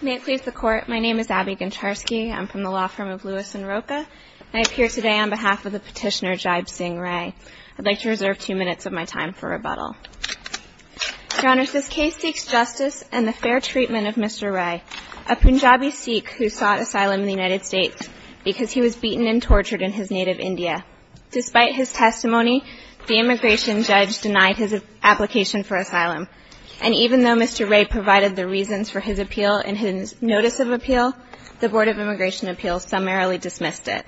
May it please the Court, my name is Abby Goncharski. I'm from the law firm of Lewis and Roca. I appear today on behalf of the petitioner Jaib Singh Ray. I'd like to reserve two minutes of my time for rebuttal. Your Honor, this case seeks justice and the fair treatment of Mr. Ray, a Punjabi Sikh who sought asylum in the United States because he was beaten and tortured in his native India. Despite his testimony, the immigration judge denied his application for asylum. And even though Mr. Ray provided the reasons for his appeal and his notice of appeal, the Board of Immigration Appeals summarily dismissed it.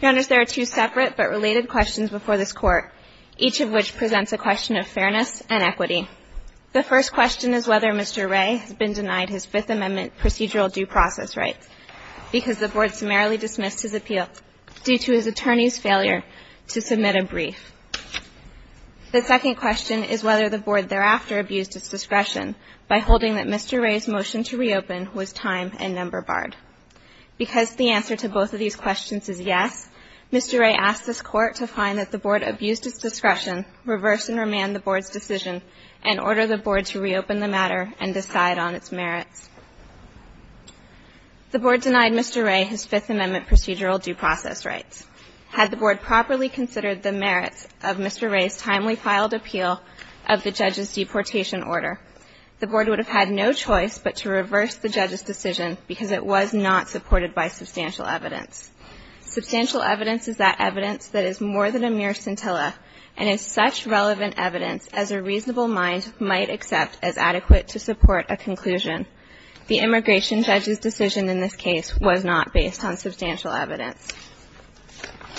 Your Honors, there are two separate but related questions before this Court, each of which presents a question of fairness and equity. The first question is whether Mr. Ray has been denied his Fifth Amendment procedural due process rights because the Board summarily dismissed his appeal due to his attorney's failure to submit a brief. The second question is whether the Board thereafter abused its discretion by holding that Mr. Ray's motion to reopen was time and number barred. Because the answer to both of these questions is yes, Mr. Ray asked this Court to find that the Board abused its discretion, reverse and remand the Board's decision, and order the Board to reopen the matter and decide on its merits. The Board denied Mr. Ray his Fifth Amendment procedural due process rights. Had the Board properly considered the merits of Mr. Ray's timely filed appeal of the judge's deportation order, the Board would have had no choice but to reverse the judge's decision because it was not supported by substantial evidence. Substantial evidence is that evidence that is more than a mere scintilla and is such relevant evidence as a reasonable mind might accept as adequate to support a conclusion. The immigration judge's decision in this case was not based on substantial evidence.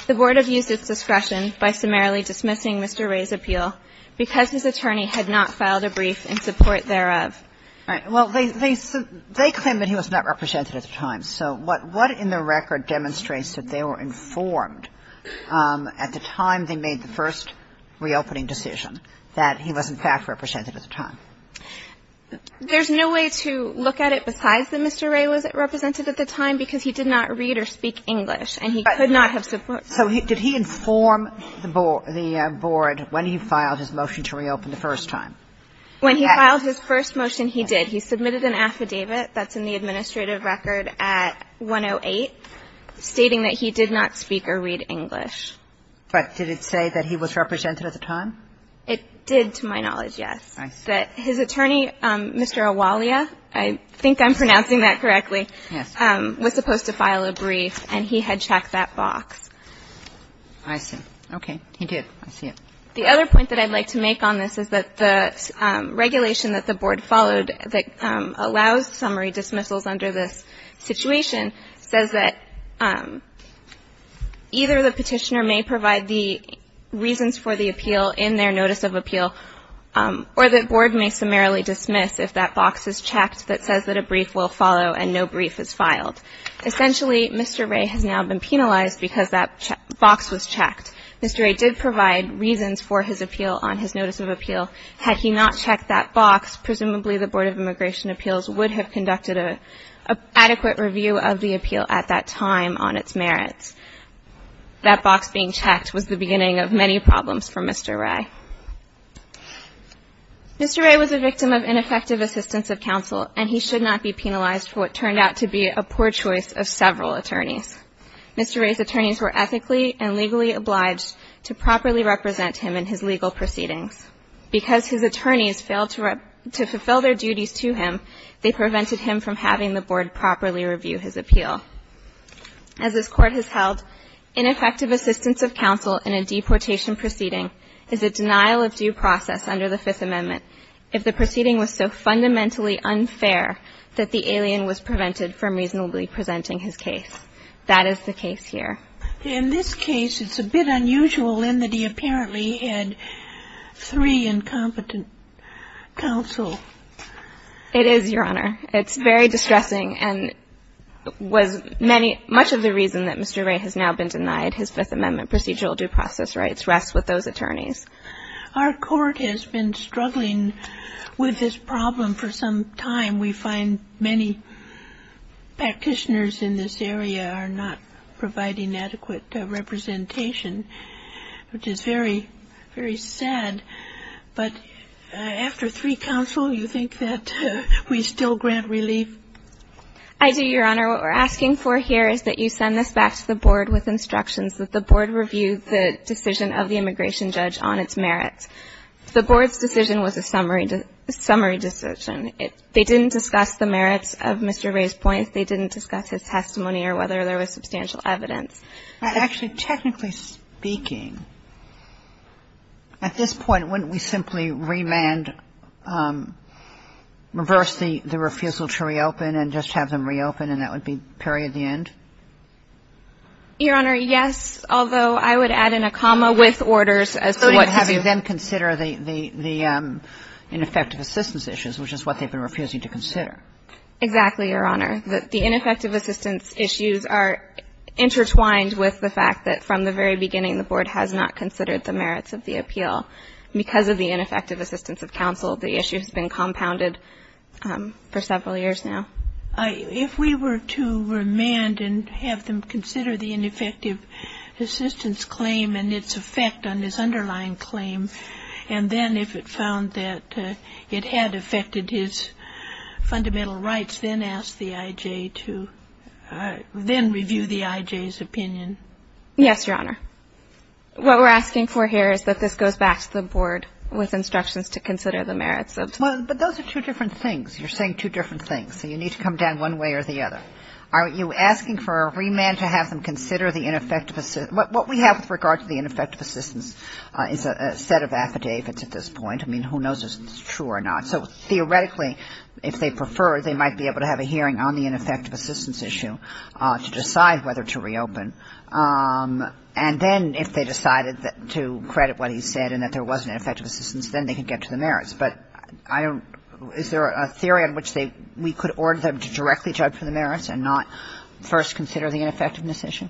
The Board abused its discretion by summarily dismissing Mr. Ray's appeal because his attorney had not filed a brief in support thereof. All right. Well, they claim that he was not represented at the time. So what in the record demonstrates that they were informed at the time they made the first reopening decision that he was in fact represented at the time? There's no way to look at it besides that Mr. Ray was represented at the time because he did not read or speak English, and he could not have supported it. So did he inform the Board when he filed his motion to reopen the first time? When he filed his first motion, he did. He submitted an affidavit that's in the administrative record at 108 stating that he did not speak or read English. But did it say that he was represented at the time? It did, to my knowledge, yes. I see. That his attorney, Mr. Awalia, I think I'm pronouncing that correctly. Yes. Was supposed to file a brief, and he had checked that box. I see. Okay. He did. I see it. The other point that I'd like to make on this is that the regulation that the Board followed that allows summary dismissals under this situation says that either the petitioner may provide the reasons for the appeal in their notice of appeal, or the Board may summarily dismiss if that box is checked that says that a brief will follow and no brief is filed. Essentially, Mr. Ray has now been penalized because that box was checked. Mr. Ray did provide reasons for his appeal on his notice of appeal. Had he not checked that box, presumably the Board of Immigration Appeals would have conducted an adequate review of the appeal at that time on its merits. That box being checked was the beginning of many problems for Mr. Ray. Mr. Ray was a victim of ineffective assistance of counsel, and he should not be penalized for what turned out to be a poor choice of several attorneys. Mr. Ray's attorneys were ethically and legally obliged to properly represent him in his legal proceedings. Because his attorneys failed to fulfill their duties to him, they prevented him from having the Board properly review his appeal. As this Court has held, ineffective assistance of counsel in a deportation proceeding is a denial of due process under the Fifth Amendment if the proceeding was so fundamentally unfair that the alien was prevented from reasonably presenting his case. That is the case here. In this case, it's a bit unusual in that he apparently had three incompetent counsel. It is, Your Honor. It's very distressing and was many, much of the reason that Mr. Ray has now been denied his Fifth Amendment procedural due process rights rests with those attorneys. Our Court has been struggling with this problem for some time. We find many practitioners in this area are not providing adequate representation, which is very, very sad. But after three counsel, you think that we still grant relief? I do, Your Honor. What we're asking for here is that you send this back to the Board with instructions that the Board review the decision of the immigration judge on its merits. The Board's decision was a summary decision. They didn't discuss the merits of Mr. Ray's points. They didn't discuss his testimony or whether there was substantial evidence. Actually, technically speaking, at this point, wouldn't we simply remand or reverse the refusal to reopen and just have them reopen, and that would be period the end? Your Honor, yes, although I would add in a comma with orders as to what to do. So you would have them consider the ineffective assistance issues, which is what they've been refusing to consider. Exactly, Your Honor. The ineffective assistance issues are intertwined with the fact that from the very beginning, the Board has not considered the merits of the appeal. Because of the ineffective assistance of counsel, the issue has been compounded for several years now. If we were to remand and have them consider the ineffective assistance claim and its effect on this underlying claim, and then if it found that it had affected his opinion, would you ask the IJ to then review the IJ's opinion? Yes, Your Honor. What we're asking for here is that this goes back to the Board with instructions to consider the merits of the appeal. But those are two different things. You're saying two different things. So you need to come down one way or the other. Are you asking for a remand to have them consider the ineffective assistance? What we have with regard to the ineffective assistance is a set of affidavits at this point. I mean, who knows if it's true or not. So theoretically, if they prefer, they might be able to have a hearing on the ineffective assistance issue to decide whether to reopen. And then if they decided to credit what he said and that there was an ineffective assistance, then they could get to the merits. But is there a theory in which we could order them to directly judge for the merits and not first consider the ineffectiveness issue?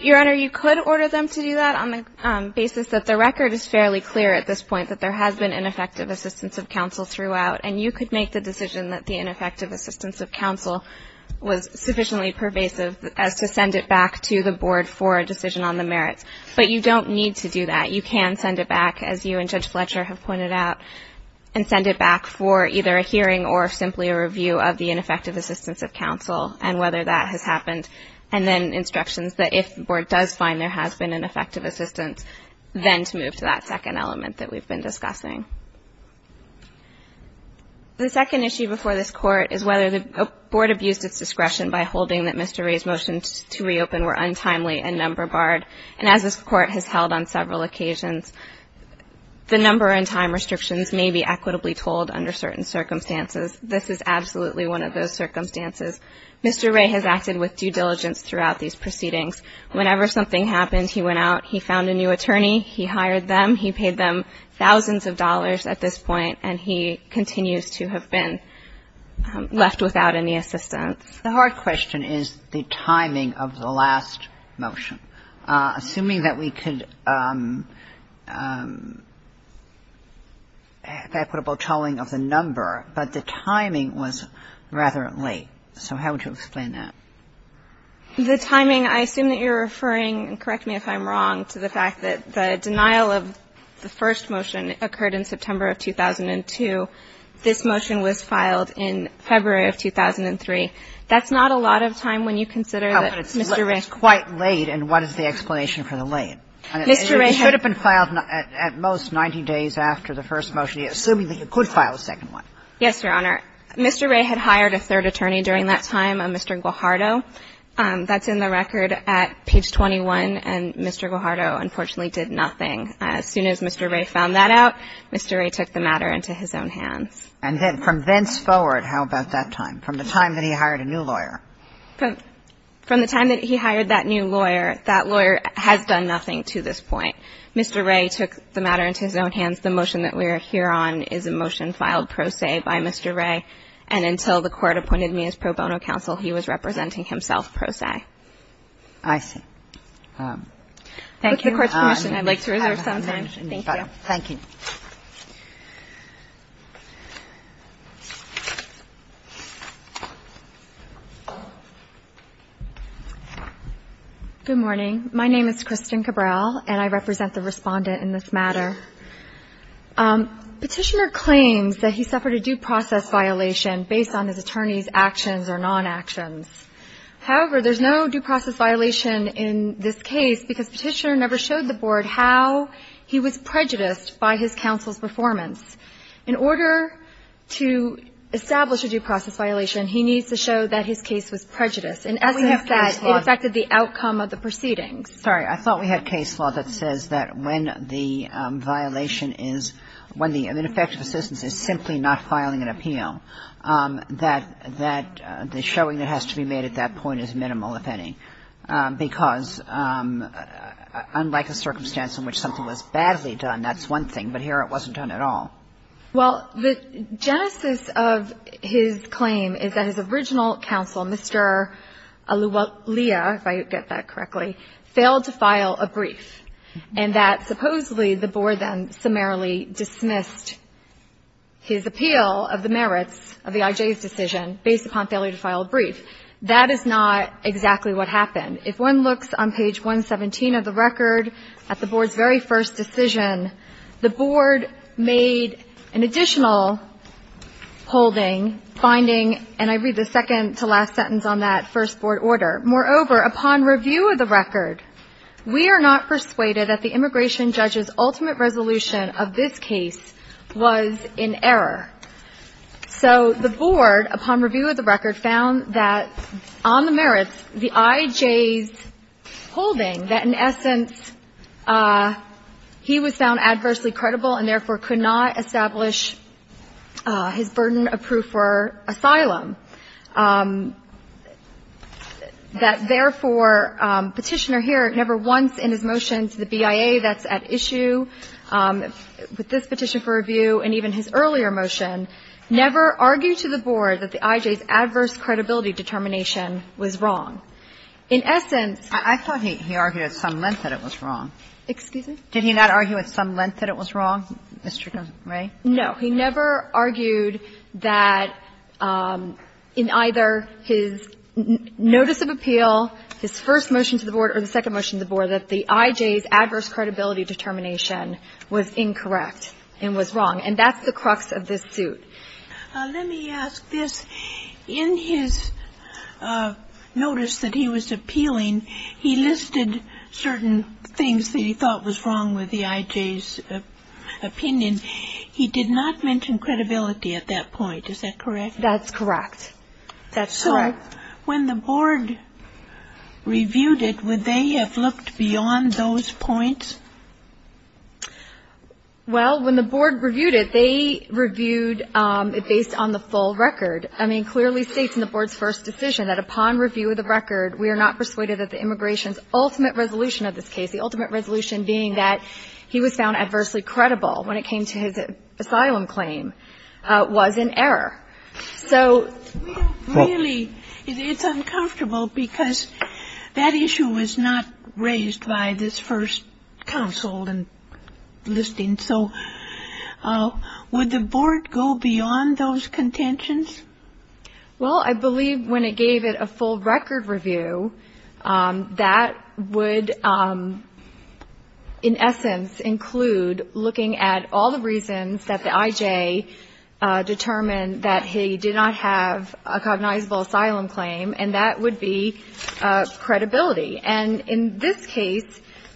Your Honor, you could order them to do that on the basis that the record is fairly clear at this point that there has been ineffective assistance of counsel throughout. And you could make the decision that the ineffective assistance of counsel was sufficiently pervasive as to send it back to the Board for a decision on the merits. But you don't need to do that. You can send it back, as you and Judge Fletcher have pointed out, and send it back for either a hearing or simply a review of the ineffective assistance of counsel and whether that has happened and then instructions that if the Board does find there has been an effective assistance, then to move to that second element that we've been discussing. The second issue before this Court is whether the Board abused its discretion by holding that Mr. Wray's motions to reopen were untimely and number barred. And as this Court has held on several occasions, the number and time restrictions may be equitably told under certain circumstances. This is absolutely one of those circumstances. Mr. Wray has acted with due diligence throughout these proceedings. Whenever something happens, he went out, he found a new attorney, he hired them, he paid them thousands of dollars at this point, and he continues to have been left without any assistance. The hard question is the timing of the last motion. Assuming that we could have equitable tolling of the number, but the timing was rather late. So how would you explain that? The timing, I assume that you're referring, and correct me if I'm wrong, to the fact that the denial of the first motion occurred in September of 2002. This motion was filed in February of 2003. That's not a lot of time when you consider that Mr. Wray was quite late. And what is the explanation for the late? It should have been filed at most 90 days after the first motion, assuming that you could file a second one. Yes, Your Honor. Mr. Wray had hired a third attorney during that time, a Mr. Guajardo. That's in the record at page 21, and Mr. Guajardo unfortunately did nothing. As soon as Mr. Wray found that out, Mr. Wray took the matter into his own hands. And then from thenceforward, how about that time, from the time that he hired a new lawyer? From the time that he hired that new lawyer, that lawyer has done nothing to this point. Mr. Wray took the matter into his own hands. The motion that we are here on is a motion filed pro se by Mr. Wray. And until the Court appointed me as pro bono counsel, he was representing himself pro se. I see. Thank you. With the Court's permission, I'd like to reserve some time. Thank you. Thank you. Good morning. My name is Kristen Cabral, and I represent the respondent in this matter. Petitioner claims that he suffered a due process violation based on his attorney's actions or non-actions. However, there's no due process violation in this case because Petitioner never showed the Board how he was prejudiced by his counsel's performance. In order to establish a due process violation, he needs to show that his case was prejudiced, in essence that it affected the outcome of the proceedings. Sorry. I thought we had case law that says that when the violation is, when the ineffective assistance is simply not filing an appeal, that the showing that has to be made at that point is minimal, if any, because unlike the circumstance in which something was badly done, that's one thing. But here it wasn't done at all. Well, the genesis of his claim is that his original counsel, Mr. Alia, if I get that correctly, failed to file a brief, and that supposedly the Board then summarily dismissed his appeal of the merits of the I.J.'s decision based upon failure to file a brief. That is not exactly what happened. If one looks on page 117 of the record at the Board's very first decision, the Board made an additional holding, finding, and I read the second-to-last sentence on that first Board order. Moreover, upon review of the record, we are not persuaded that the immigration judge's ultimate resolution of this case was in error. So the Board, upon review of the record, found that on the merits, the I.J.'s holding that in essence he was found adversely credible and therefore could not establish his burden of proof for asylum. That, therefore, Petitioner here never once in his motion to the BIA that's at issue with this petition for review and even his earlier motion never argued to the Board that the I.J.'s adverse credibility determination was wrong. In essence he argued at some length that it was wrong. Did he not argue at some length that it was wrong, Mr. Ray? No. He never argued that in either his notice of appeal, his first motion to the Board or the second motion to the Board, that the I.J.'s adverse credibility determination was incorrect and was wrong, and that's the crux of this suit. Let me ask this. In his notice that he was appealing, he listed certain things that he thought was wrong with the I.J.'s opinion. He did not mention credibility at that point. Is that correct? That's correct. That's correct. So when the Board reviewed it, would they have looked beyond those points? Well, when the Board reviewed it, they reviewed it based on the full record. I mean, clearly states in the Board's first decision that upon review of the record we are not persuaded that the immigration's ultimate resolution of this case, the ultimate resolution being that he was found adversely credible when it came to his asylum claim, was in error. So we don't really ñ it's uncomfortable because that issue was not raised by this first counsel in listing, so would the Board go beyond those contentions? Well, I believe when it gave it a full record review, that would in essence include looking at all the reasons that the I.J. determined that he did not have a cognizable asylum claim, and that would be credibility. And in this case,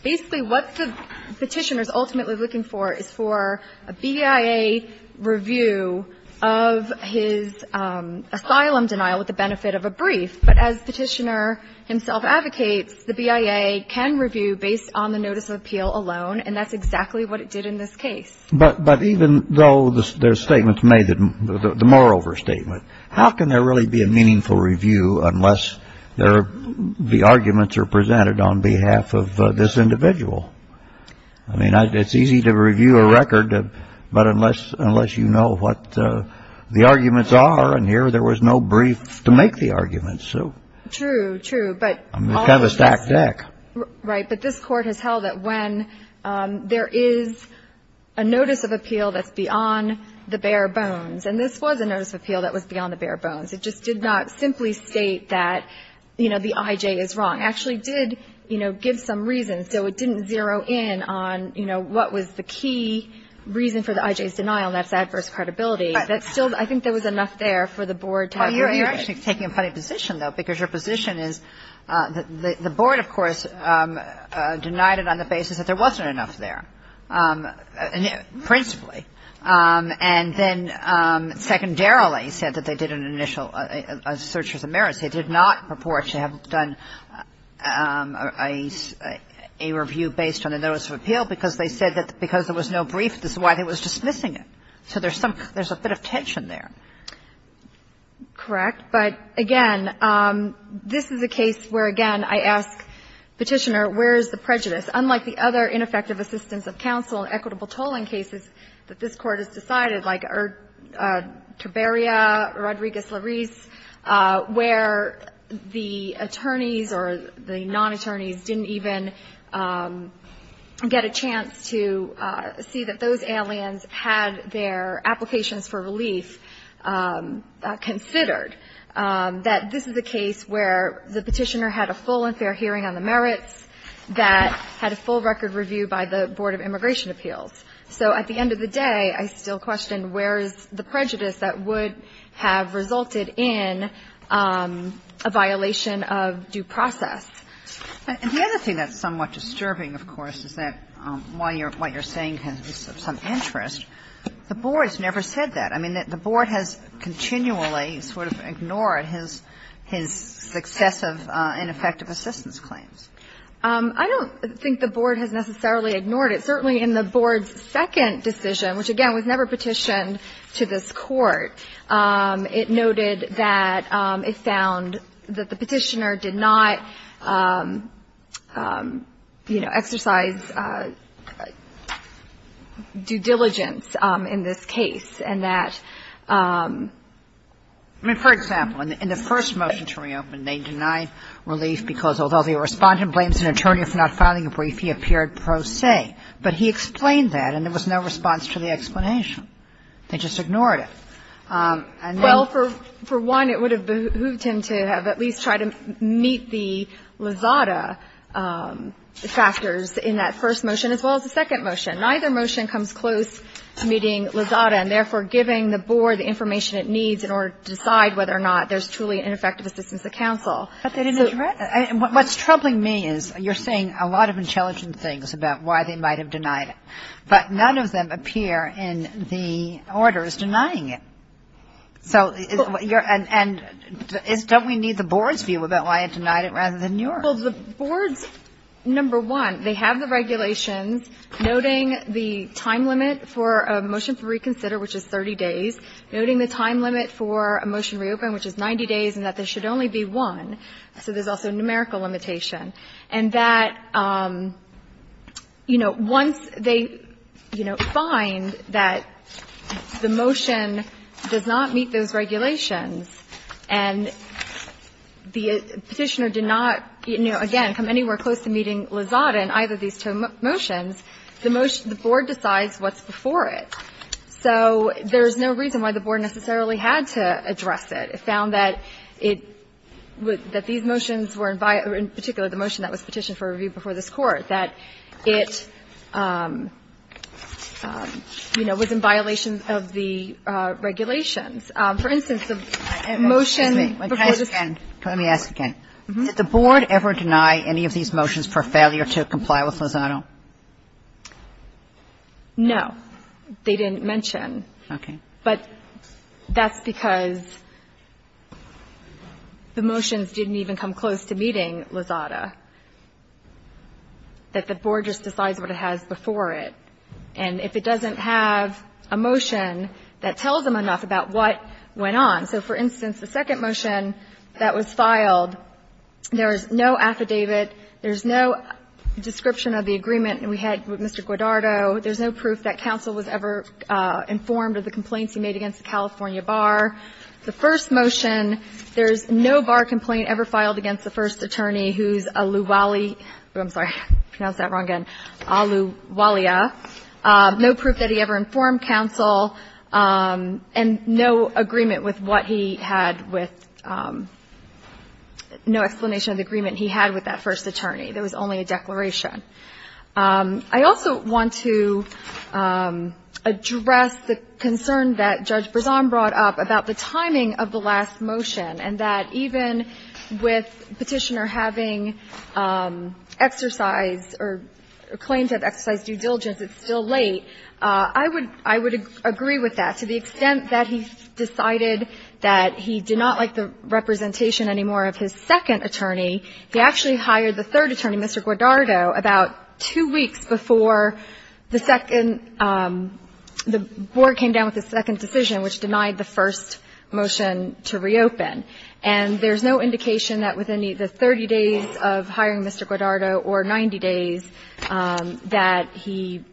basically what the Petitioner's ultimately looking for is for a BIA review of his asylum denial with the benefit of a brief. But as Petitioner himself advocates, the BIA can review based on the notice of appeal alone, and that's exactly what it did in this case. But even though there's statements made that ñ the moreover statement, how can there really be a meaningful review unless the arguments are presented on behalf of this individual? I mean, it's easy to review a record, but unless you know what the arguments are, and here there was no brief to make the arguments. True, true. Kind of a stacked deck. Right. But this Court has held that when there is a notice of appeal that's beyond the bare bones, and this was a notice of appeal that was beyond the bare bones. It just did not simply state that, you know, the IJ is wrong. It actually did, you know, give some reason, so it didn't zero in on, you know, what was the key reason for the IJ's denial, and that's adverse credibility. Right. That still ñ I think there was enough there for the Board to have a review. Well, you're actually taking a funny position, though, because your position is that the Board, of course, denied it on the basis that there wasn't enough there, principally. And then secondarily said that they did an initial search as a merit. They did not purport to have done a review based on a notice of appeal because they said that because there was no brief, this is why they were dismissing it. So there's some ñ there's a bit of tension there. Correct. But, again, this is a case where, again, I ask Petitioner, where is the prejudice? Unlike the other ineffective assistance of counsel and equitable tolling cases that this Court has decided, like Tiberia, Rodriguez-Larisse, where the attorneys or the non-attorneys didn't even get a chance to see that those aliens had their applications for relief considered, that this is a case where the Petitioner had a full and fair hearing on the merits, that had a full record review by the Board of Immigration Appeals. So at the end of the day, I still question where is the prejudice that would have resulted in a violation of due process. And the other thing that's somewhat disturbing, of course, is that while you're ñ what you're saying has some interest, the Board's never said that. I mean, the Board has continually sort of ignored his successive ineffective assistance claims. I don't think the Board has necessarily ignored it. Certainly in the Board's second decision, which, again, was never petitioned to this Court, it noted that it found that the Petitioner did not, you know, exercise his due diligence in this case, and that ñ I mean, for example, in the first motion to reopen, they denied relief because although the Respondent blames an attorney for not filing a brief, he appeared pro se. But he explained that, and there was no response to the explanation. They just ignored it. And then ñ Well, for one, it would have behooved him to have at least tried to meet the Lizada factors in that first motion as well as the second motion. Neither motion comes close to meeting Lizada and, therefore, giving the Board the information it needs in order to decide whether or not there's truly ineffective assistance at counsel. But they didn't address it. What's troubling me is you're saying a lot of intelligent things about why they might have denied it, but none of them appear in the orders denying it. So you're ñ and don't we need the Board's view about why it denied it rather than the Board's? Well, the Board's ñ number one, they have the regulations noting the time limit for a motion to reconsider, which is 30 days, noting the time limit for a motion to reopen, which is 90 days, and that there should only be one. So there's also numerical limitation. And that, you know, once they, you know, find that the motion does not meet those regulations, and the Petitioner did not, you know, again, come anywhere close to meeting Lizada in either of these two motions, the motion ñ the Board decides what's before it. So there's no reason why the Board necessarily had to address it. It found that it would ñ that these motions were ñ in particular, the motion that was petitioned for review before this Court, that it, you know, was in violation of the regulations. For instance, the motion ñ Excuse me. Let me ask again. Did the Board ever deny any of these motions for failure to comply with Lizada? No. They didn't mention. Okay. But that's because the motions didn't even come close to meeting Lizada, that the Board just decides what it has before it. And if it doesn't have a motion that tells them enough about what went on. So for instance, the second motion that was filed, there is no affidavit, there's no description of the agreement we had with Mr. Guadardo, there's no proof that counsel was ever informed of the complaints he made against the California bar. The first motion, there's no bar complaint ever filed against the first attorney who's Aluwalia ñ I'm sorry, I pronounced that wrong again ñ Aluwalia, no proof that he ever informed counsel, and no agreement with what he had with ñ no explanation of the agreement he had with that first attorney. There was only a declaration. I also want to address the concern that Judge Brezon brought up about the timing of the last motion, and that even with Petitioner having exercised or claimed to have exercised due diligence, it's still late. I would ñ I would agree with that. To the extent that he decided that he did not like the representation anymore of his second attorney, he actually hired the third attorney, Mr. Guadardo, about two weeks before the second ñ the Board came down with a second decision which denied the first motion to reopen. And there's no indication that within either 30 days of hiring Mr. Guadardo or 90 days that he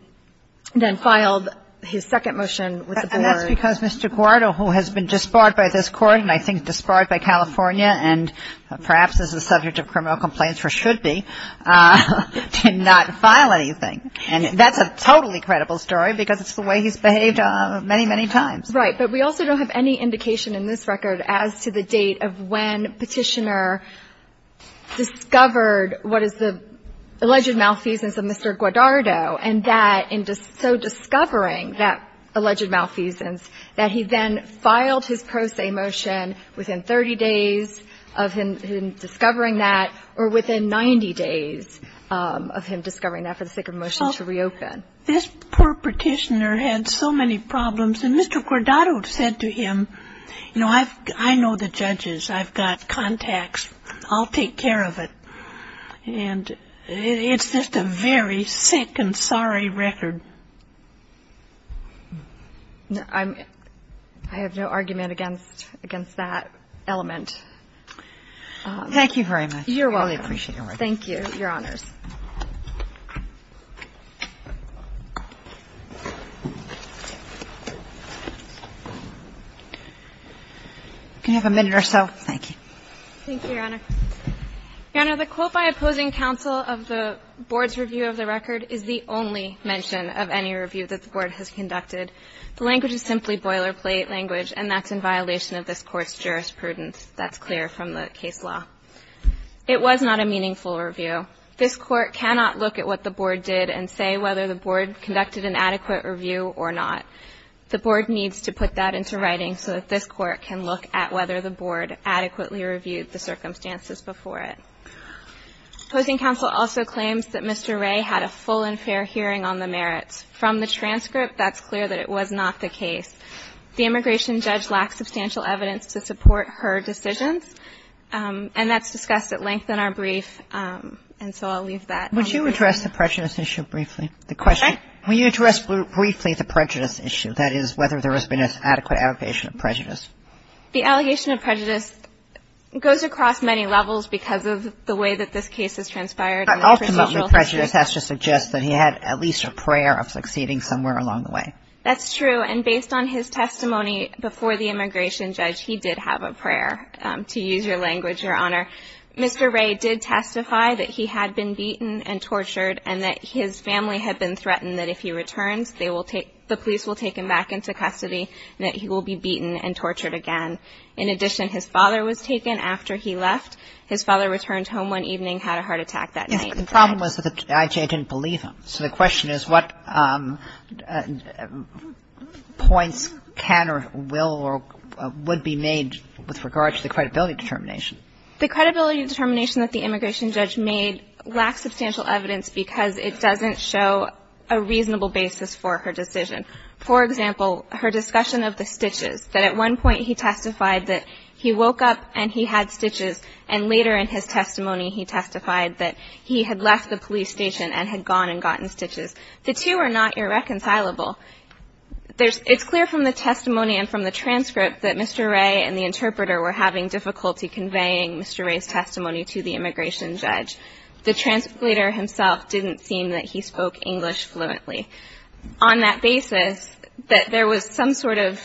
then filed his second motion with the Board. And that's because Mr. Guadardo, who has been disbarred by this Court, and I think disbarred by California, and perhaps is the subject of criminal complaints for should be, did not file anything. And that's a totally credible story because it's the way he's behaved many, many times. Right. But we also don't have any indication in this record as to the date of when Petitioner discovered what is the alleged malfeasance of Mr. Guadardo, and that in so discovering that alleged malfeasance that he then filed his pro se motion within 30 days of him discovering that, or within 90 days of him discovering that for the sake of a motion to reopen. This poor Petitioner had so many problems. And Mr. Guadardo said to him, you know, I know the judges. I've got contacts. I'll take care of it. And it's just a very sick and sorry record. I have no argument against that element. Thank you very much. You're welcome. I really appreciate your record. Thank you. I'm going to turn it back to you, and I'll let you have the floor. I'm going to turn it back to Ms. Roberts. You can have a minute or so. Thank you. Thank you, Your Honor. Your Honor, the quote by opposing counsel of the Board's review of the record is the only mention of any review that the Board has conducted. The language is simply boilerplate language, and that's in violation of this Court's jurisprudence. That's clear from the case law. It was not a meaningful review. This Court cannot look at what the Board did and say whether the Board conducted an adequate review or not. The Board needs to put that into writing so that this Court can look at whether the Board adequately reviewed the circumstances before it. Opposing counsel also claims that Mr. Ray had a full and fair hearing on the merits. From the transcript, that's clear that it was not the case. The immigration judge lacked substantial evidence to support her decisions, and that's discussed at length in our brief, and so I'll leave that. Would you address the prejudice issue briefly? The question. Okay. Will you address briefly the prejudice issue, that is, whether there has been an adequate allegation of prejudice? The allegation of prejudice goes across many levels because of the way that this case has transpired. Ultimately, prejudice has to suggest that he had at least a prayer of succeeding somewhere along the way. That's true, and based on his testimony before the immigration judge, he did have a Mr. Ray did testify that he had been beaten and tortured and that his family had been threatened that if he returns, they will take the police will take him back into custody and that he will be beaten and tortured again. In addition, his father was taken after he left. His father returned home one evening, had a heart attack that night. Yes, but the problem was actually I didn't believe him, so the question is what points can or will or would be made with regard to the credibility determination? The credibility determination that the immigration judge made lacks substantial evidence because it doesn't show a reasonable basis for her decision. For example, her discussion of the stitches, that at one point he testified that he woke up and he had stitches and later in his testimony he testified that he had left the police station and had gone and gotten stitches. The two are not irreconcilable. It's clear from the testimony and from the transcript that Mr. Ray and the interpreter were having difficulty conveying Mr. Ray's testimony to the immigration judge. The translator himself didn't seem that he spoke English fluently. On that basis, that there was some sort of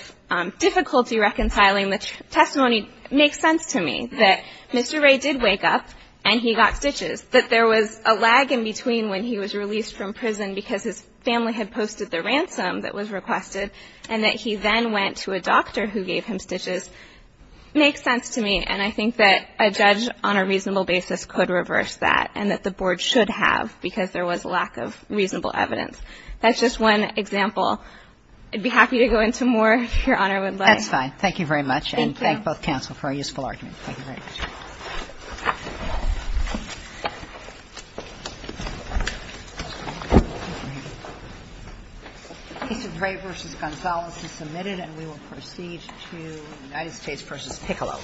difficulty reconciling the testimony makes sense to me, that Mr. Ray did wake up and he got stitches, that there was a lag in between when he was released from prison because his family had posted the ransom that was requested and that he then went to a doctor who gave him stitches makes sense to me, and I think that a judge on a reasonable basis could reverse that and that the board should have because there was lack of reasonable evidence. That's just one example. I'd be happy to go into more if Your Honor would like. That's fine. Thank you very much. Thank you. Thank both counsel for a useful argument. Thank you very much. Mr. Ray v. Gonzales is submitted and we will proceed to United States v. Piccolo.